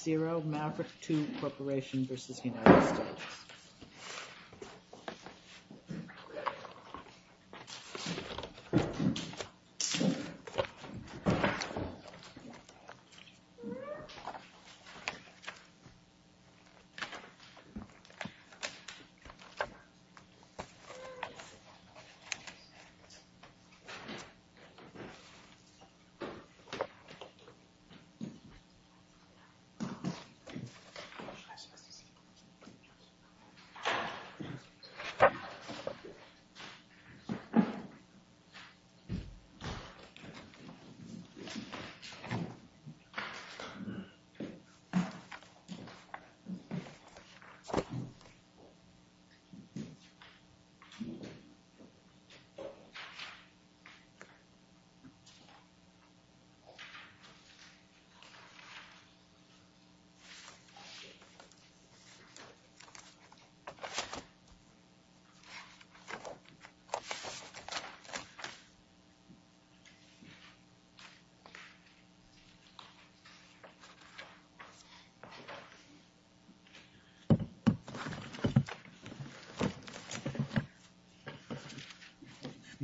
0, Maverick Tube Corporation v. United States 0, Maverick Tube Corporation v. United States 30 January 2016 Good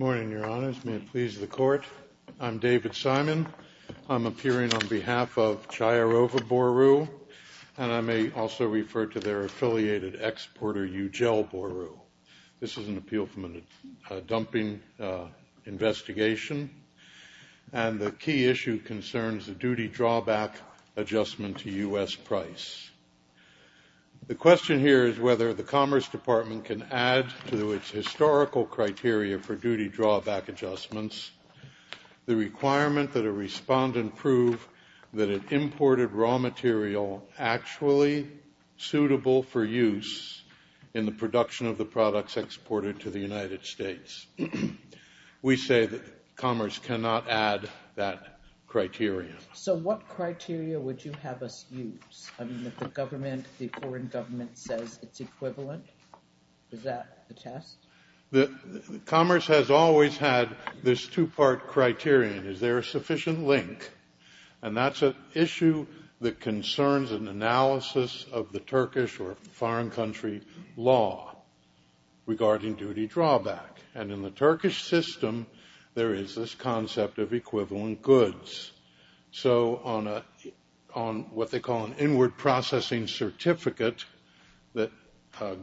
morning your Honors, may it please the Court. I am David Simon. I'm appearing on behalf of Chiarova Boru and I may also refer to their affiliated exporter Eugel Boru. This is an appeal from a dumping investigation and the key issue concerns the duty drawback adjustment to U.S. price. The question here is whether the Commerce Department can add to its historical criteria for duty drawback adjustments the requirement that a respondent prove that it imported raw material actually suitable for use in the production of the products exported to the United States. We say that Commerce cannot add that criteria. So what criteria would you have us use? I mean if the government, the foreign government says it's equivalent, is that the test? Commerce has always had this two-part criterion. Is there a sufficient link? And that's an issue that concerns an analysis of the Turkish or foreign country law regarding duty drawback. And in the Turkish system there is this concept of equivalent that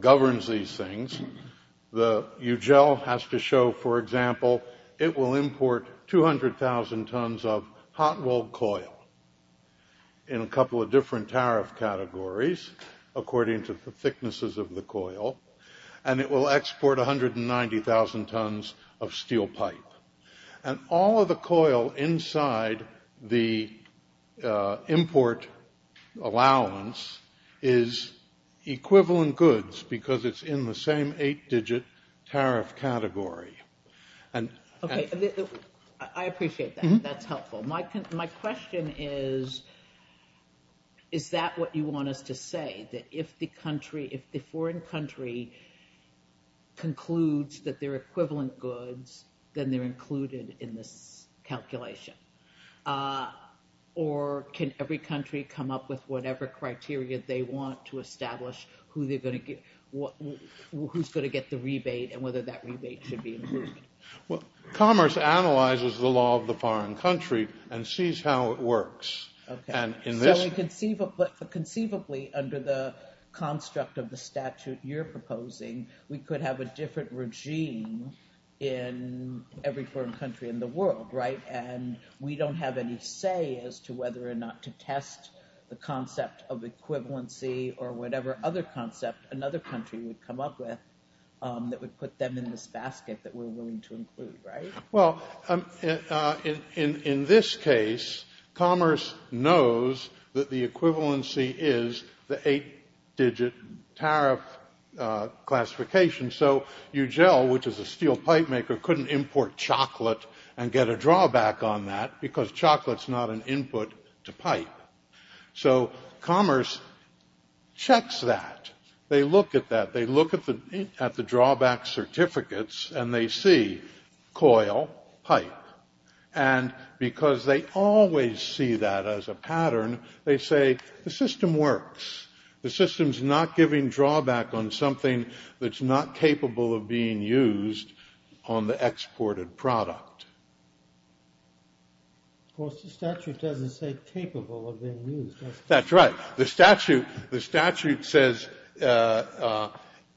governs these things. The Eugel has to show, for example, it will import 200,000 tons of hot-rolled coil in a couple of different tariff categories according to the thicknesses of the coil and it will export 190,000 tons of steel pipe. And all of the coil inside the import allowance is equivalent goods because it's in the same eight-digit tariff category. I appreciate that. That's helpful. My question is, is that what you want us to say? That if the country, if the foreign country concludes that they're equivalent goods, then they're included in this calculation? Or can every country come up with whatever criteria they want to establish who's going to get the rebate and whether that rebate should be included? Commerce analyzes the law of the foreign country and sees how it works. Okay. So conceivably under the construct of the statute you're proposing, we could have a different regime in every foreign country in the world, right? And we don't have any say as to whether or not to test the concept of equivalency or whatever other concept another country would come up with that would put them in this basket that we're willing to include, right? Well, in this case, commerce knows that the equivalency is the eight-digit tariff classification. So UGEL, which is a steel pipe maker, couldn't import chocolate and get a drawback on that because chocolate's not an input to pipe. So commerce checks that. They look at that. They look at the drawback certificates and they see coil, pipe. And because they always see that as a pattern, they say the system works. The system's not giving drawback on something that's not capable of being used on the exported product. Of course, the statute doesn't say capable of being used. That's right. The statute says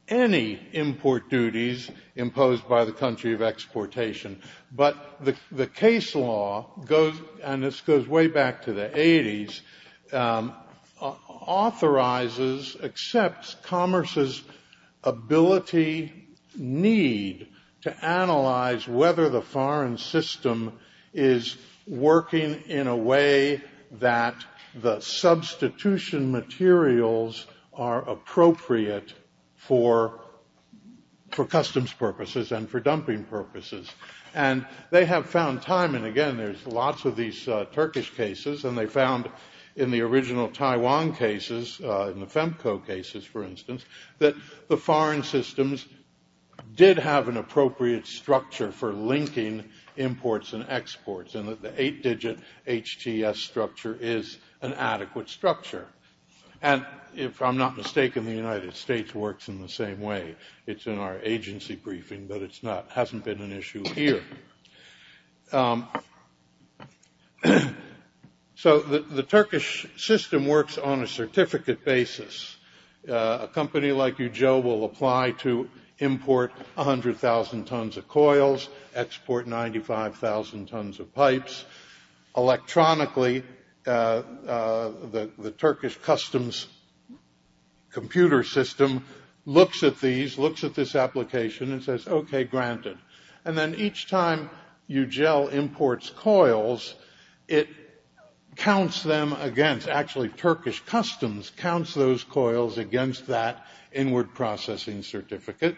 any import duties imposed by the country of exportation. But the case law goes, and this goes way back to the 80s, authorizes, accepts commerce's ability, need to analyze whether the foreign system is working in a way that the state that substitution materials are appropriate for customs purposes and for dumping purposes. And they have found time, and again, there's lots of these Turkish cases, and they found in the original Taiwan cases, in the FEMCO cases, for instance, that the foreign systems did have an appropriate structure for linking imports and exports, and that the eight-digit HTS structure is an adequate structure. And if I'm not mistaken, the United States works in the same way. It's in our agency briefing, but it's not – hasn't been an issue here. So the Turkish system works on a certificate basis. A company like Ujo will apply to import 100,000 tons of coils, export 95,000 tons of pipes. Electronically, the Turkish customs computer system looks at these, looks at this application, and says, okay, granted. And then each time Ujo imports coils, it counts them against – actually, Turkish customs counts those coils against that inward processing certificate.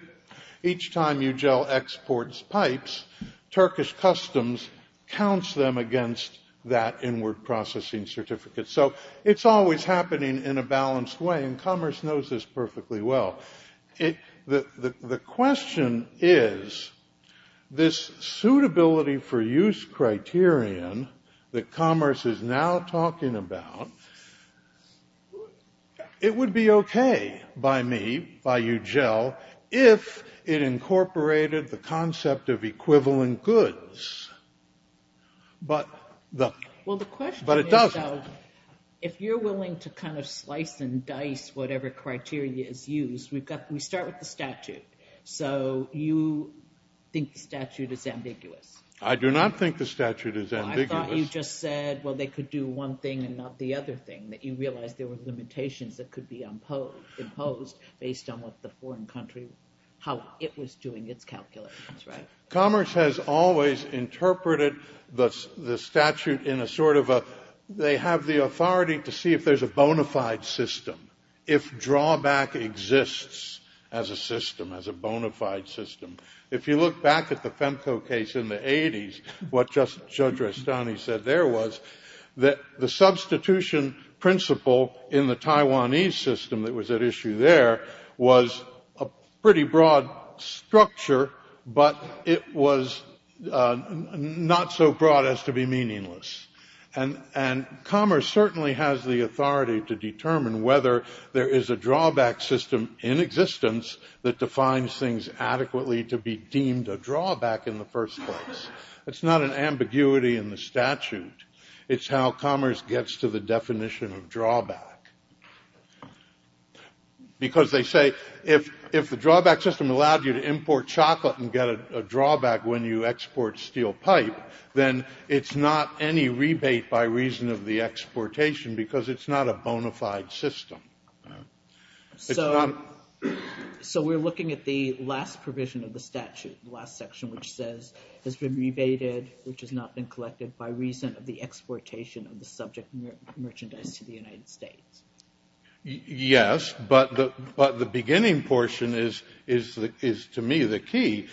Each time Ujo exports pipes, Turkish customs counts them against that inward processing certificate. So it's always happening in a balanced way, and commerce knows this perfectly well. The question is, this suitability for use criterion that commerce is now talking about, it would be okay by me, by Ujo, if it incorporated the concept of equivalent goods. But it doesn't. Well, the question is, though, if you're willing to kind of slice and dice whatever criteria is used, we start with the statute. So you think the statute is ambiguous? I do not think the statute is ambiguous. I thought you just said, well, they could do one thing and not the other thing, that you realize there were limitations that could be imposed based on what the foreign country – how it was doing its calculations, right? Commerce has always interpreted the statute in a sort of a – they have the authority to see if there's a bona fide system, if drawback exists as a system, as a bona fide system. If you look back at the FEMCO case in the 80s, what Judge Restani said there was that the substitution principle in the Taiwanese system that was at issue there was a pretty broad structure, but it was not so broad as to be meaningless. And commerce certainly has the authority to determine whether there is a drawback system in existence that defines things adequately to be deemed a drawback in the first place. That's not an ambiguity in the statute. It's how commerce gets to the definition of drawback. Because they say if the drawback system allowed you to import chocolate and get a drawback when you export steel pipe, then it's not any rebate by reason of the exportation because it's not a bona fide system. So we're looking at the last provision of the statute, the last section, which says has been rebated, which has not been collected by reason of the exportation of the subject merchandise to the United States. Yes, but the beginning portion is to me the key.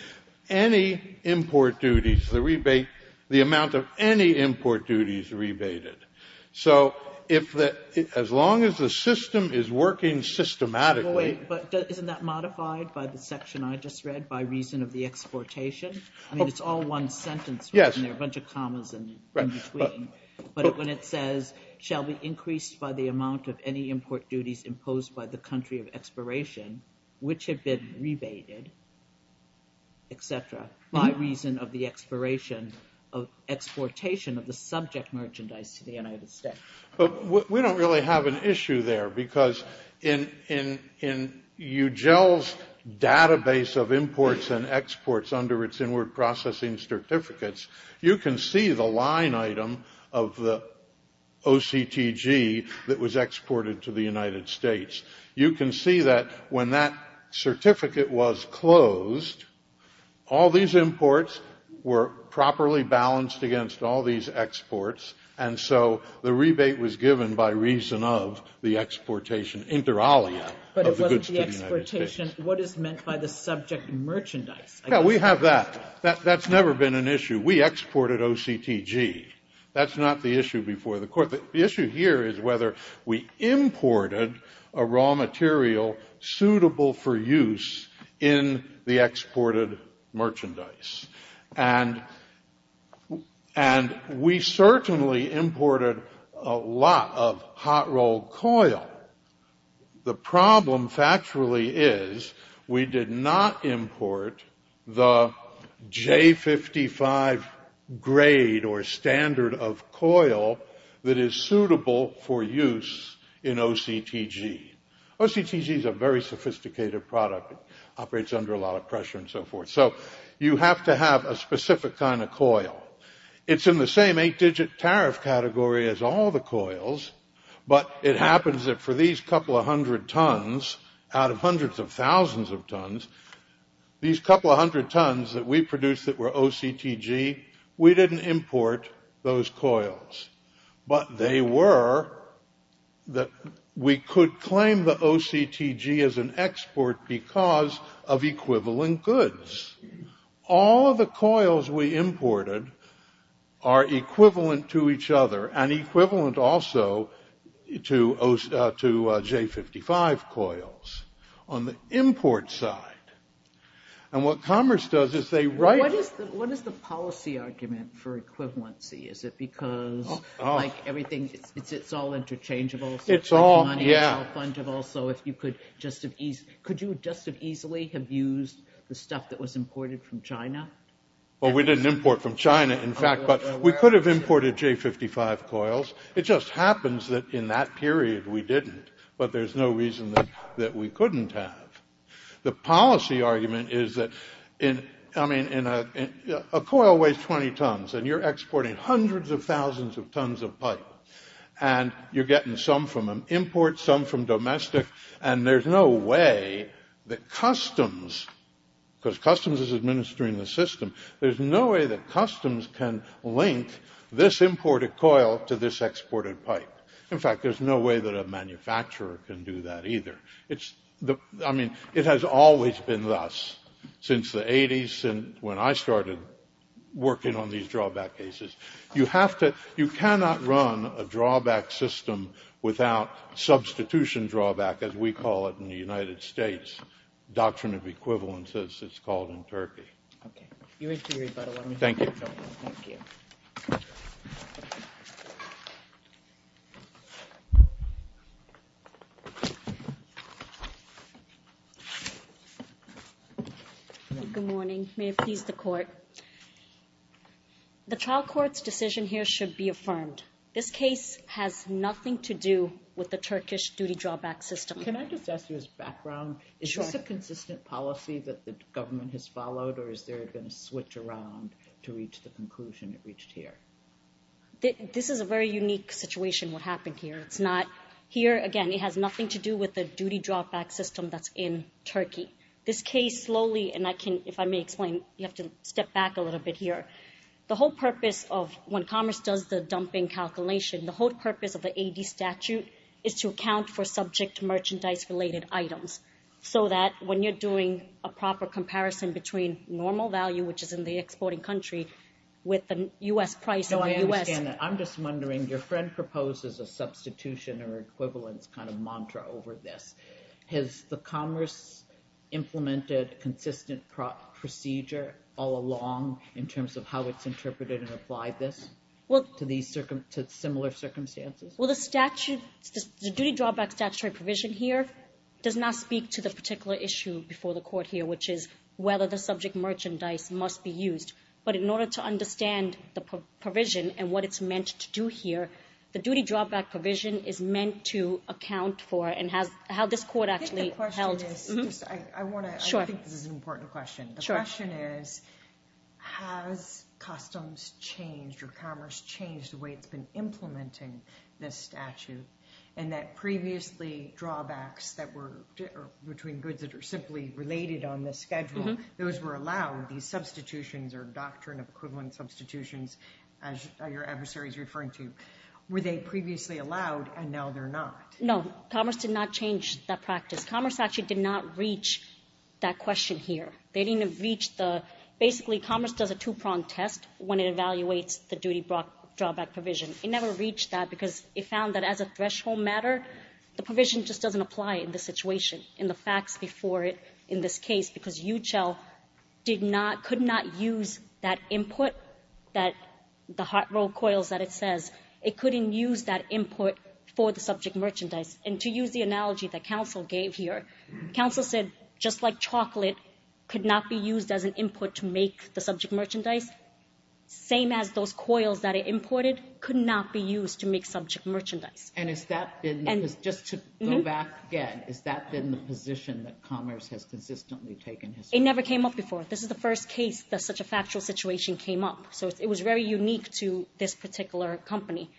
Any import duties, the amount of any import duties rebated. So as long as the system is working systematically Isn't that modified by the section I just read, by reason of the exportation? I mean, it's all one sentence. There are a bunch of commas in between. But when it says shall be increased by the amount of any import duties imposed by the country of expiration, which have been rebated, et cetera, by reason of the exportation of the subject merchandise to the United States. But we don't really have an issue there because in UGEL's database of imports and exports under its inward processing certificates, you can see the line item of the OCTG that was exported to the United States. You can see that when that certificate was closed, all these imports were properly balanced against all these exports. And so the rebate was given by reason of the exportation inter alia of the goods to the United States. But it wasn't the exportation. What is meant by the subject merchandise? Yeah, we have that. That's never been an issue. We exported OCTG. That's not the issue before the court. The issue here is whether we imported a raw material suitable for use in the exported merchandise. And we certainly imported a lot of hot roll coil. The problem factually is we did not import the J55 grade or standard of coil that is suitable for use in OCTG. OCTG is a very sophisticated product. It operates under a lot of pressure and so forth. So you have to have a specific kind of coil. It's in the same eight-digit tariff category as all the coils. But it happens that for these couple of hundred tons out of hundreds of thousands of tons, these couple of hundred tons that we produced that were OCTG, we didn't import those coils. But they were that we could claim the OCTG as an export because of equivalent goods. All of the coils we imported are equivalent to each other and equivalent also to J55 coils on the import side. And what commerce does is they write... What is the policy argument for equivalency? Is it because like everything, it's all interchangeable? It's all, yeah. It's all fungible. So if you could just as easily, could you just as easily have used the stuff that was imported from China? Well, we didn't import from China, in fact, but we could have imported J55 coils. It just happens that in that period we didn't. But there's no reason that we couldn't have. The policy argument is that a coil weighs 20 tons and you're exporting hundreds of thousands of tons of pipe. And you're getting some from an import, some from domestic. And there's no way that customs, because customs is administering the system, there's no way that customs can link this imported coil to this exported pipe. In fact, there's no way that a manufacturer can do that either. I mean, it has always been thus since the 80s, when I started working on these drawback cases. You have to, you cannot run a drawback system without substitution drawback, as we call it in the United States. Doctrine of equivalence, as it's called in Turkey. Okay. Thank you. Good morning. May it please the court. The trial court's decision here should be affirmed. This case has nothing to do with the Turkish duty drawback system. Can I just ask you as background, is this a consistent policy that the government has followed or is there going to switch around to reach the conclusion it reached here? This is a very unique situation, what happened here. It's not, here again, it has nothing to do with the duty drawback system that's in Turkey. This case slowly, and I can, if I may explain, you have to step back a little bit here. The whole purpose of, when commerce does the dumping calculation, the whole purpose of the AD statute is to account for subject merchandise related items. So that when you're doing a proper comparison between normal value, which is in the exporting country, with the U.S. price in the U.S. No, I understand that. I'm just wondering, your friend proposes a substitution or equivalence kind of mantra over this. Has the commerce implemented consistent procedure all along, in terms of how it's interpreted and applied this to similar circumstances? Well, the statute, the duty drawback statutory provision here does not speak to the particular issue before the court here, which is whether the subject merchandise must be used. But in order to understand the provision and what it's meant to do here, the duty drawback provision is meant to account for and how this court actually held. I think the question is, I want to, I think this is an important question. The question is, has customs changed or commerce changed the way it's been implementing this statute and that previously drawbacks that were between goods that are simply related on the schedule, those were allowed, these substitutions or doctrine of equivalent substitutions, as your adversary is referring to, were they previously allowed and now they're not? No, commerce did not change that practice. Commerce actually did not reach that question here. They didn't reach the, basically commerce does a two-prong test when it evaluates the duty drawback provision. It never reached that because it found that as a threshold matter, the provision just doesn't apply in this situation, in the facts before it, in this case, because UCHEL did not, could not use that input, that the hot roll coils that it says, it couldn't use that input for the subject merchandise. And to use the analogy that counsel gave here, counsel said, just like chocolate could not be used as an input to make the subject merchandise, same as those coils that it imported could not be used to make subject merchandise. And has that been, just to go back again, has that been the position that commerce has consistently taken? It never came up before. This is the first case that such a factual situation came up. So it was very unique to this particular company.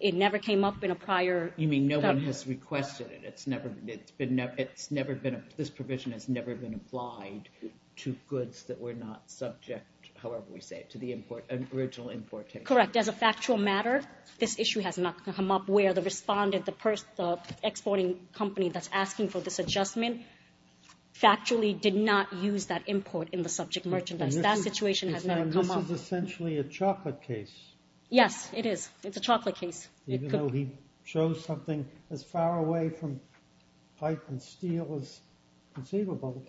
It never came up in a prior. You mean no one has requested it. It's never, it's been, it's never been, this provision has never been applied to goods that were not subject, however we say it, to the import and original importation. Correct. As a factual matter, this issue has not come up where the respondent, the exporting company that's asking for this adjustment, factually did not use that import in the subject merchandise. That situation has never come up. And this is essentially a chocolate case. Yes, it is. It's a chocolate case. Even though he chose something as far away from pipe and steel as conceivable,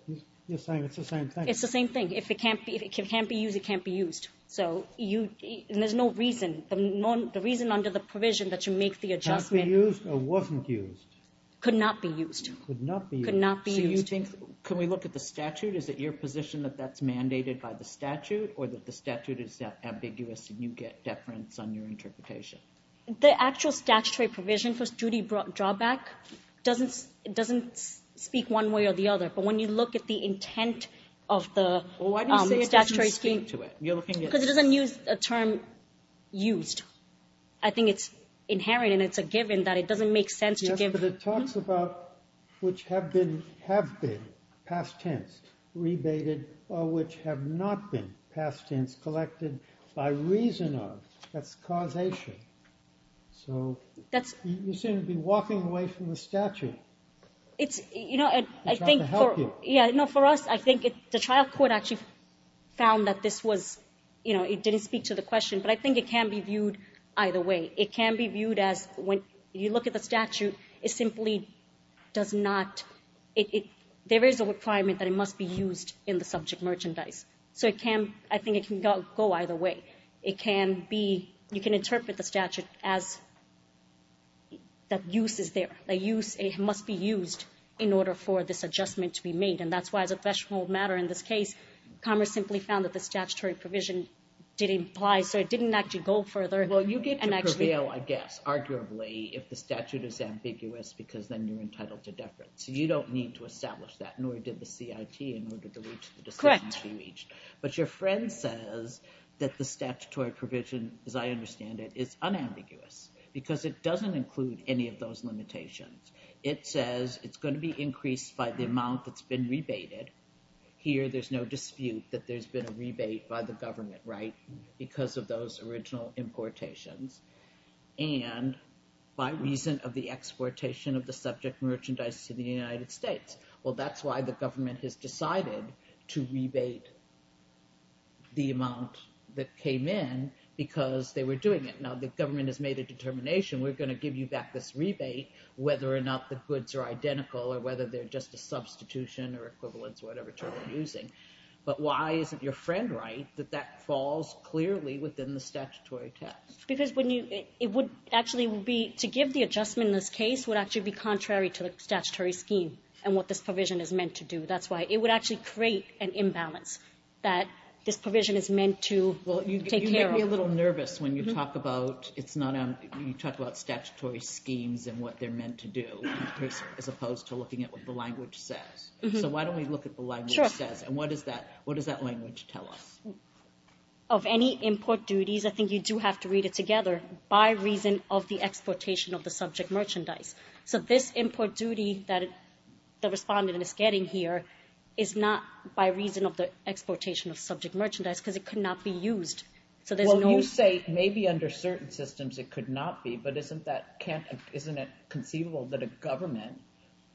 you're saying it's the same thing. It's the same thing. If it can't be, if it can't be used, it can't be used. So you, and there's no reason, the reason under the provision that you make the adjustment. Can't be used or wasn't used. Could not be used. Could not be used. Could not be used. So you think, can we look at the statute? Is it your position that that's mandated by the statute or that the statute is ambiguous and you get deference on your interpretation? The actual statutory provision for duty drawback doesn't speak one way or the other. But when you look at the intent of the statutory scheme. Well, why do you say it doesn't speak to it? Because it doesn't use a term used. I think it's inherent and it's a given that it doesn't make sense to give. Yes, but it talks about which have been, have been past tense rebated or which have not been past tense collected by reason of. That's causation. So you seem to be walking away from the statute. It's, you know, I think for us, I think the trial court actually found that this was, you know, it didn't speak to the question. But I think it can be viewed either way. It can be viewed as when you look at the statute, it simply does not, there is a requirement that it must be used in the subject merchandise. So it can, I think it can go either way. It can be, you can interpret the statute as that use is there. A use, it must be used in order for this adjustment to be made. And that's why as a threshold matter in this case, Congress simply found that the statutory provision didn't apply, so it didn't actually go further. Well, you get to prevail, I guess, arguably, if the statute is ambiguous because then you're entitled to deference. You don't need to establish that, nor did the CIT in order to reach the decision to be reached. Correct. But your friend says that the statutory provision, as I understand it, is unambiguous because it doesn't include any of those limitations. It says it's going to be increased by the amount that's been rebated. Here there's no dispute that there's been a rebate by the government, right, because of those original importations, and by reason of the exportation of the subject merchandise to the United States. Well, that's why the government has decided to rebate the amount that came in because they were doing it. Now, the government has made a determination, we're going to give you back this rebate whether or not the goods are identical or whether they're just a substitution or equivalence or whatever term they're using. But why isn't your friend right that that falls clearly within the statutory test? Because it would actually be to give the adjustment in this case would actually be contrary to the statutory scheme and what this provision is meant to do. That's why it would actually create an imbalance that this provision is meant to take care of. Well, you make me a little nervous when you talk about statutory schemes and what they're meant to do as opposed to looking at what the language says. So why don't we look at what the language says and what does that language tell us? Of any import duties, I think you do have to read it together, by reason of the exportation of the subject merchandise. So this import duty that the respondent is getting here is not by reason of the exportation of subject merchandise because it could not be used. Well, you say maybe under certain systems it could not be, but isn't it conceivable that a government,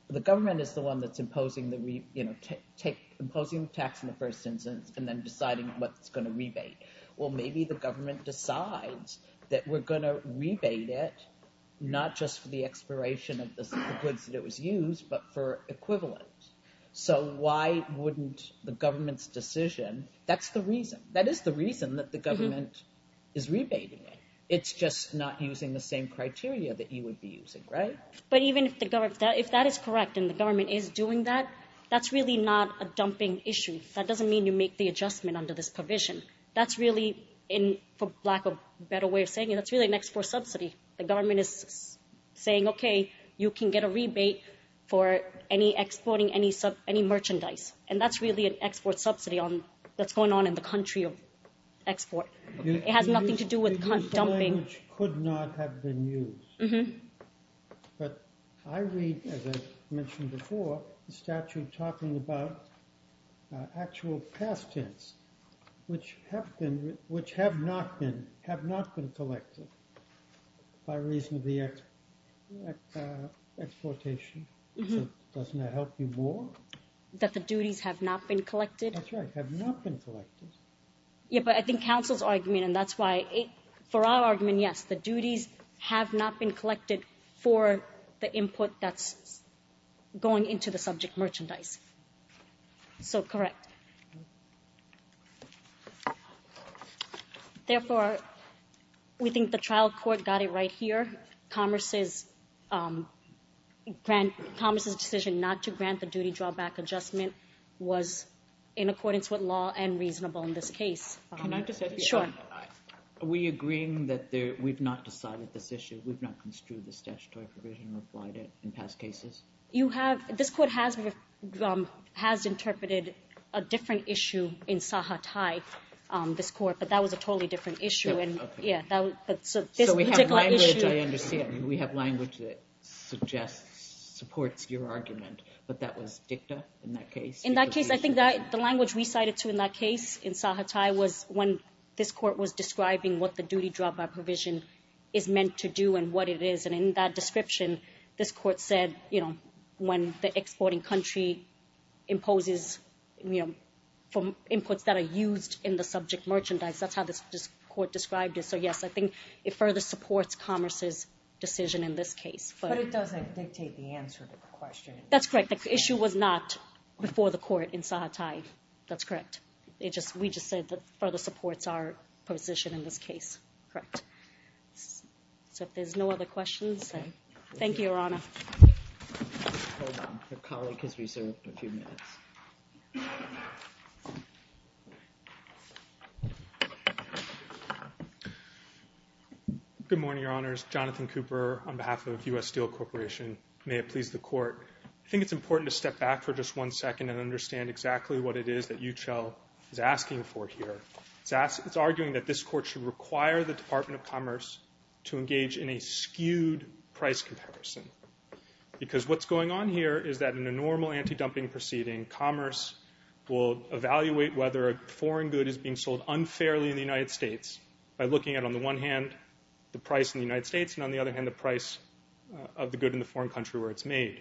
the government is the one that's imposing the tax in the first instance and then deciding what it's going to rebate. Well, maybe the government decides that we're going to rebate it not just for the expiration of the goods that it was used, but for equivalent. So why wouldn't the government's decision, that's the reason. That is the reason that the government is rebating it. It's just not using the same criteria that you would be using, right? But even if that is correct and the government is doing that, that's really not a dumping issue. That doesn't mean you make the adjustment under this provision. That's really, for lack of a better way of saying it, that's really an export subsidy. The government is saying, okay, you can get a rebate for any exporting any merchandise, and that's really an export subsidy that's going on in the country of export. It has nothing to do with dumping. It could not have been used. But I read, as I mentioned before, the statute talking about actual past tense, which have not been collected by reason of the exportation. Doesn't that help you more? That the duties have not been collected? That's right, have not been collected. Yeah, but I think counsel's argument, and that's why, for our argument, yes, the duties have not been collected for the input that's going into the subject merchandise. So, correct. Therefore, we think the trial court got it right here. Commerce's decision not to grant the duty drawback adjustment was in accordance with law and reasonable in this case. Can I just ask you a question? Sure. Are we agreeing that we've not decided this issue, we've not construed this statutory provision or applied it in past cases? This court has interpreted a different issue in Saha Thai, this court, but that was a totally different issue. So we have language, I understand. We have language that supports your argument, but that was dicta in that case? In that case, I think the language we cited, too, in that case, in Saha Thai, was when this court was describing what the duty drawback provision is meant to do and what it is. And in that description, this court said, you know, when the exporting country imposes inputs that are used in the subject merchandise, that's how this court described it. So, yes, I think it further supports Commerce's decision in this case. But it doesn't dictate the answer to the question. That's correct. The issue was not before the court in Saha Thai. That's correct. We just said it further supports our position in this case. Correct. So if there's no other questions, thank you, Your Honor. Hold on. Your colleague has reserved a few minutes. Good morning, Your Honors. Jonathan Cooper on behalf of U.S. Steel Corporation. May it please the Court. I think it's important to step back for just one second and understand exactly what it is that UCHEL is asking for here. It's arguing that this court should require the Department of Commerce to engage in a skewed price comparison because what's going on here is that in a normal anti-dumping proceeding, Commerce will evaluate whether a foreign good is being sold unfairly in the United States by looking at, on the one hand, the price in the United States and, on the other hand, the price of the good in the foreign country where it's made.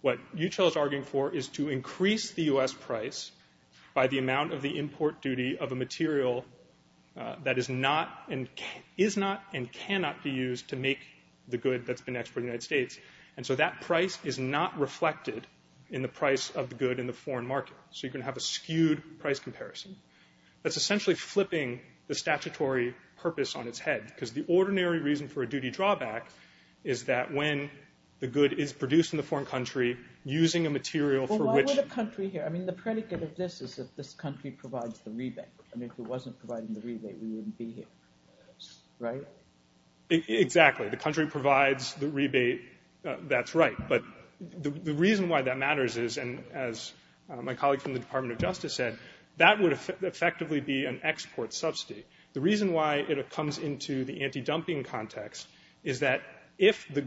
What UCHEL is arguing for is to increase the U.S. price by the amount of the import duty of a material that is not and cannot be used to make the good that's been exported to the United States. And so that price is not reflected in the price of the good in the foreign market. So you're going to have a skewed price comparison. That's essentially flipping the statutory purpose on its head because the ordinary reason for a duty drawback is that when the good is produced in the foreign country using a material for which Why the country here? I mean, the predicate of this is that this country provides the rebate. And if it wasn't providing the rebate, we wouldn't be here. Right? Exactly. The country provides the rebate. That's right. But the reason why that matters is, and as my colleague from the Department of Justice said, that would effectively be an export subsidy. The reason why it comes into the anti-dumping context is that if the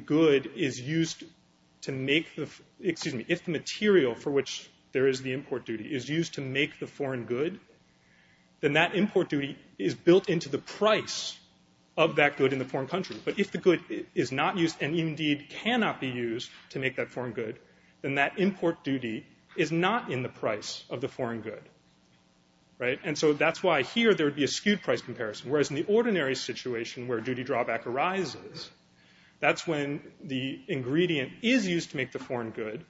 material for which there is the import duty is used to make the foreign good, then that import duty is built into the price of that good in the foreign country. But if the good is not used and indeed cannot be used to make that foreign good, then that import duty is not in the price of the foreign good. Right? And so that's why here there would be a skewed price comparison. Whereas in the ordinary situation where duty drawback arises, that's when the ingredient is used to make the foreign good,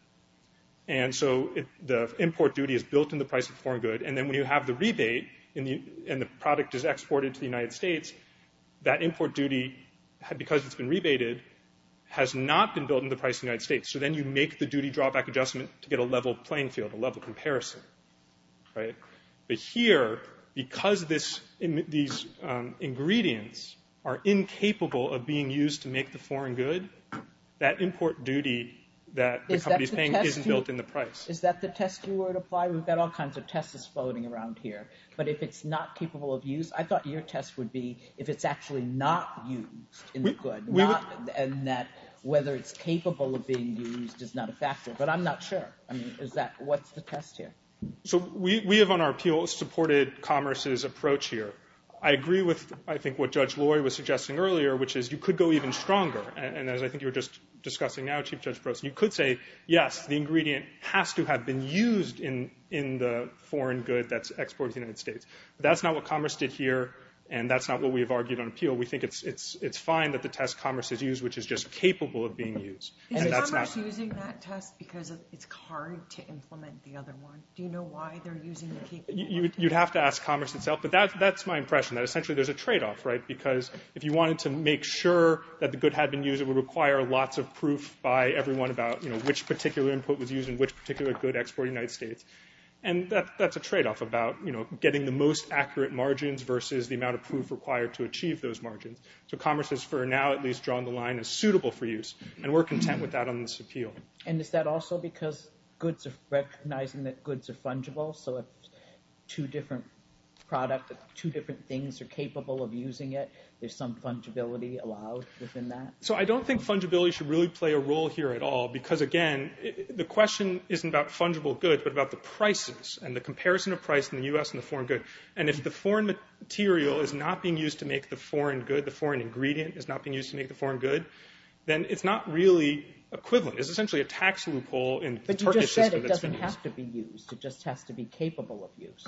and so the import duty is built in the price of the foreign good, and then when you have the rebate and the product is exported to the United States, that import duty, because it's been rebated, has not been built in the price of the United States. So then you make the duty drawback adjustment to get a level playing field, a level comparison. Right? But here, because these ingredients are incapable of being used to make the foreign good, that import duty that the company is paying isn't built in the price. Is that the test you were to apply? We've got all kinds of tests floating around here. But if it's not capable of use, I thought your test would be if it's actually not used in the good, and that whether it's capable of being used is not a factor. But I'm not sure. I mean, what's the test here? So we have, on our appeal, supported Commerce's approach here. I agree with, I think, what Judge Loy was suggesting earlier, which is you could go even stronger. And as I think you were just discussing now, Chief Judge Prost, you could say, yes, the ingredient has to have been used in the foreign good that's exported to the United States. But that's not what Commerce did here, and that's not what we've argued on appeal. We think it's fine that the test Commerce has used, which is just capable of being used. Is Commerce using that test because it's hard to implement the other one? Do you know why they're using the capable one? You'd have to ask Commerce itself. But that's my impression, that essentially there's a tradeoff, right? Because if you wanted to make sure that the good had been used, it would require lots of proof by everyone about which particular input was used and which particular good exported to the United States. And that's a tradeoff about getting the most accurate margins versus the amount of proof required to achieve those margins. So Commerce has for now at least drawn the line as suitable for use. And we're content with that on this appeal. And is that also because goods are recognizing that goods are fungible? So if two different products, two different things are capable of using it, there's some fungibility allowed within that? So I don't think fungibility should really play a role here at all because, again, the question isn't about fungible goods but about the prices and the comparison of price in the U.S. and the foreign good. And if the foreign material is not being used to make the foreign good, the foreign ingredient is not being used to make the foreign good, then it's not really equivalent. It's essentially a tax loophole in the Turkish system that's been used. But you just said it doesn't have to be used. It just has to be capable of use.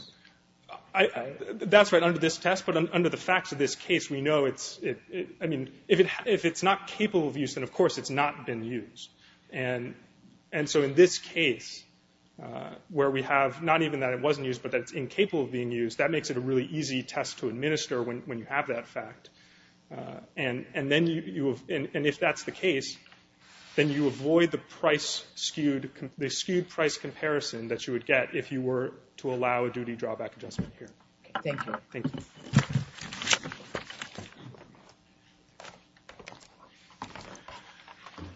That's right, under this test. But under the facts of this case, we know it's – I mean, if it's not capable of use, then, of course, it's not been used. And so in this case where we have not even that it wasn't used but that it's incapable of being used, that makes it a really easy test to administer when you have that fact. And then you – and if that's the case, then you avoid the price skewed – the skewed price comparison that you would get if you were to allow a duty drawback adjustment here. Thank you. Thank you.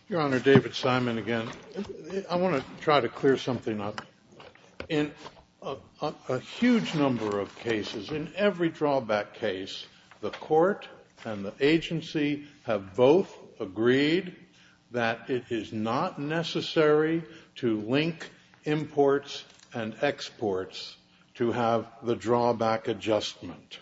Your Honor, David Simon again. I want to try to clear something up. In a huge number of cases, in every drawback case, the court and the agency have both agreed that it is not necessary to link imports and exports to have the drawback adjustment.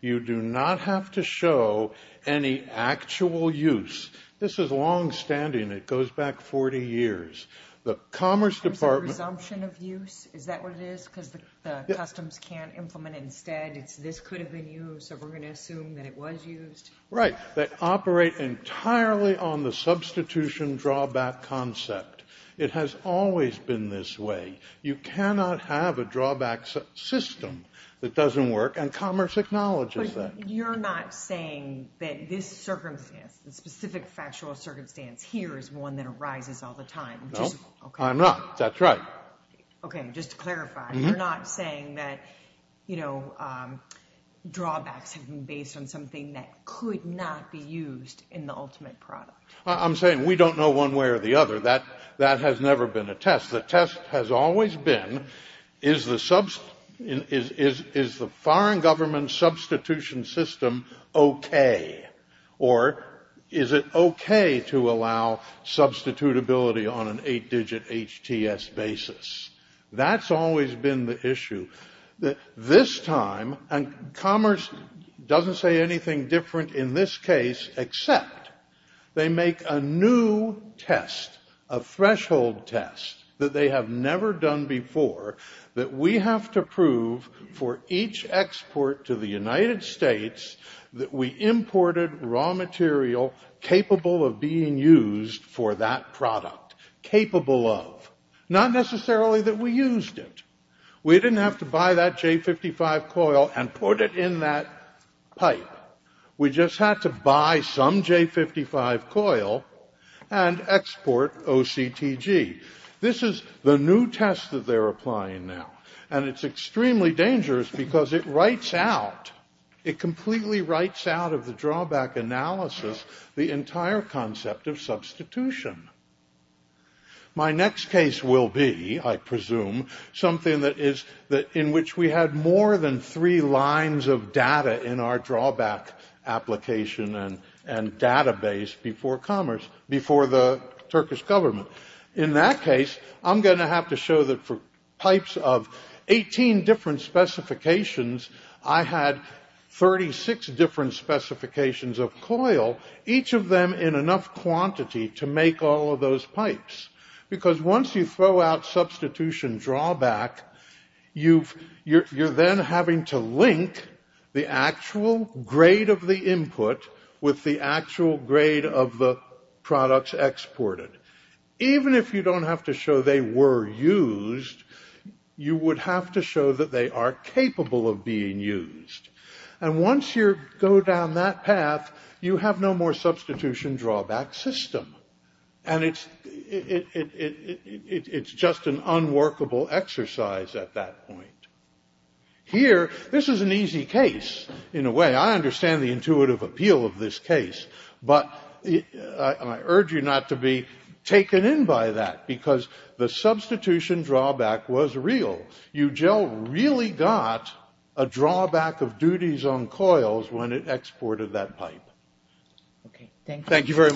You do not have to show any actual use. This is longstanding. It goes back 40 years. The Commerce Department – There's a resumption of use. Is that what it is? Because the customs can't implement it instead. So we're going to assume that it was used? Right. They operate entirely on the substitution drawback concept. It has always been this way. You cannot have a drawback system that doesn't work, and Commerce acknowledges that. But you're not saying that this circumstance, the specific factual circumstance here, is one that arises all the time? No, I'm not. That's right. Okay. Just to clarify, you're not saying that drawbacks have been based on something that could not be used in the ultimate product? I'm saying we don't know one way or the other. That has never been a test. The test has always been, is the foreign government substitution system okay? Or is it okay to allow substitutability on an eight-digit HTS basis? That's always been the issue. This time, and Commerce doesn't say anything different in this case, except they make a new test, a threshold test, that they have never done before, that we have to prove for each export to the United States that we imported raw material capable of being used for that product. Capable of. Not necessarily that we used it. We didn't have to buy that J55 coil and put it in that pipe. We just had to buy some J55 coil and export OCTG. This is the new test that they're applying now. And it's extremely dangerous because it writes out, it completely writes out of the drawback analysis, the entire concept of substitution. My next case will be, I presume, something that is in which we had more than three lines of data in our drawback application and database before Commerce, before the Turkish government. In that case, I'm going to have to show that for pipes of 18 different specifications, I had 36 different specifications of coil, each of them in enough quantity to make all of those pipes. Because once you throw out substitution drawback, you're then having to link the actual grade of the input with the actual grade of the products exported. Even if you don't have to show they were used, you would have to show that they are capable of being used. And once you go down that path, you have no more substitution drawback system. And it's just an unworkable exercise at that point. Here, this is an easy case, in a way. I understand the intuitive appeal of this case. But I urge you not to be taken in by that, because the substitution drawback was real. Eugel really got a drawback of duties on coils when it exported that pipe. Thank you very much.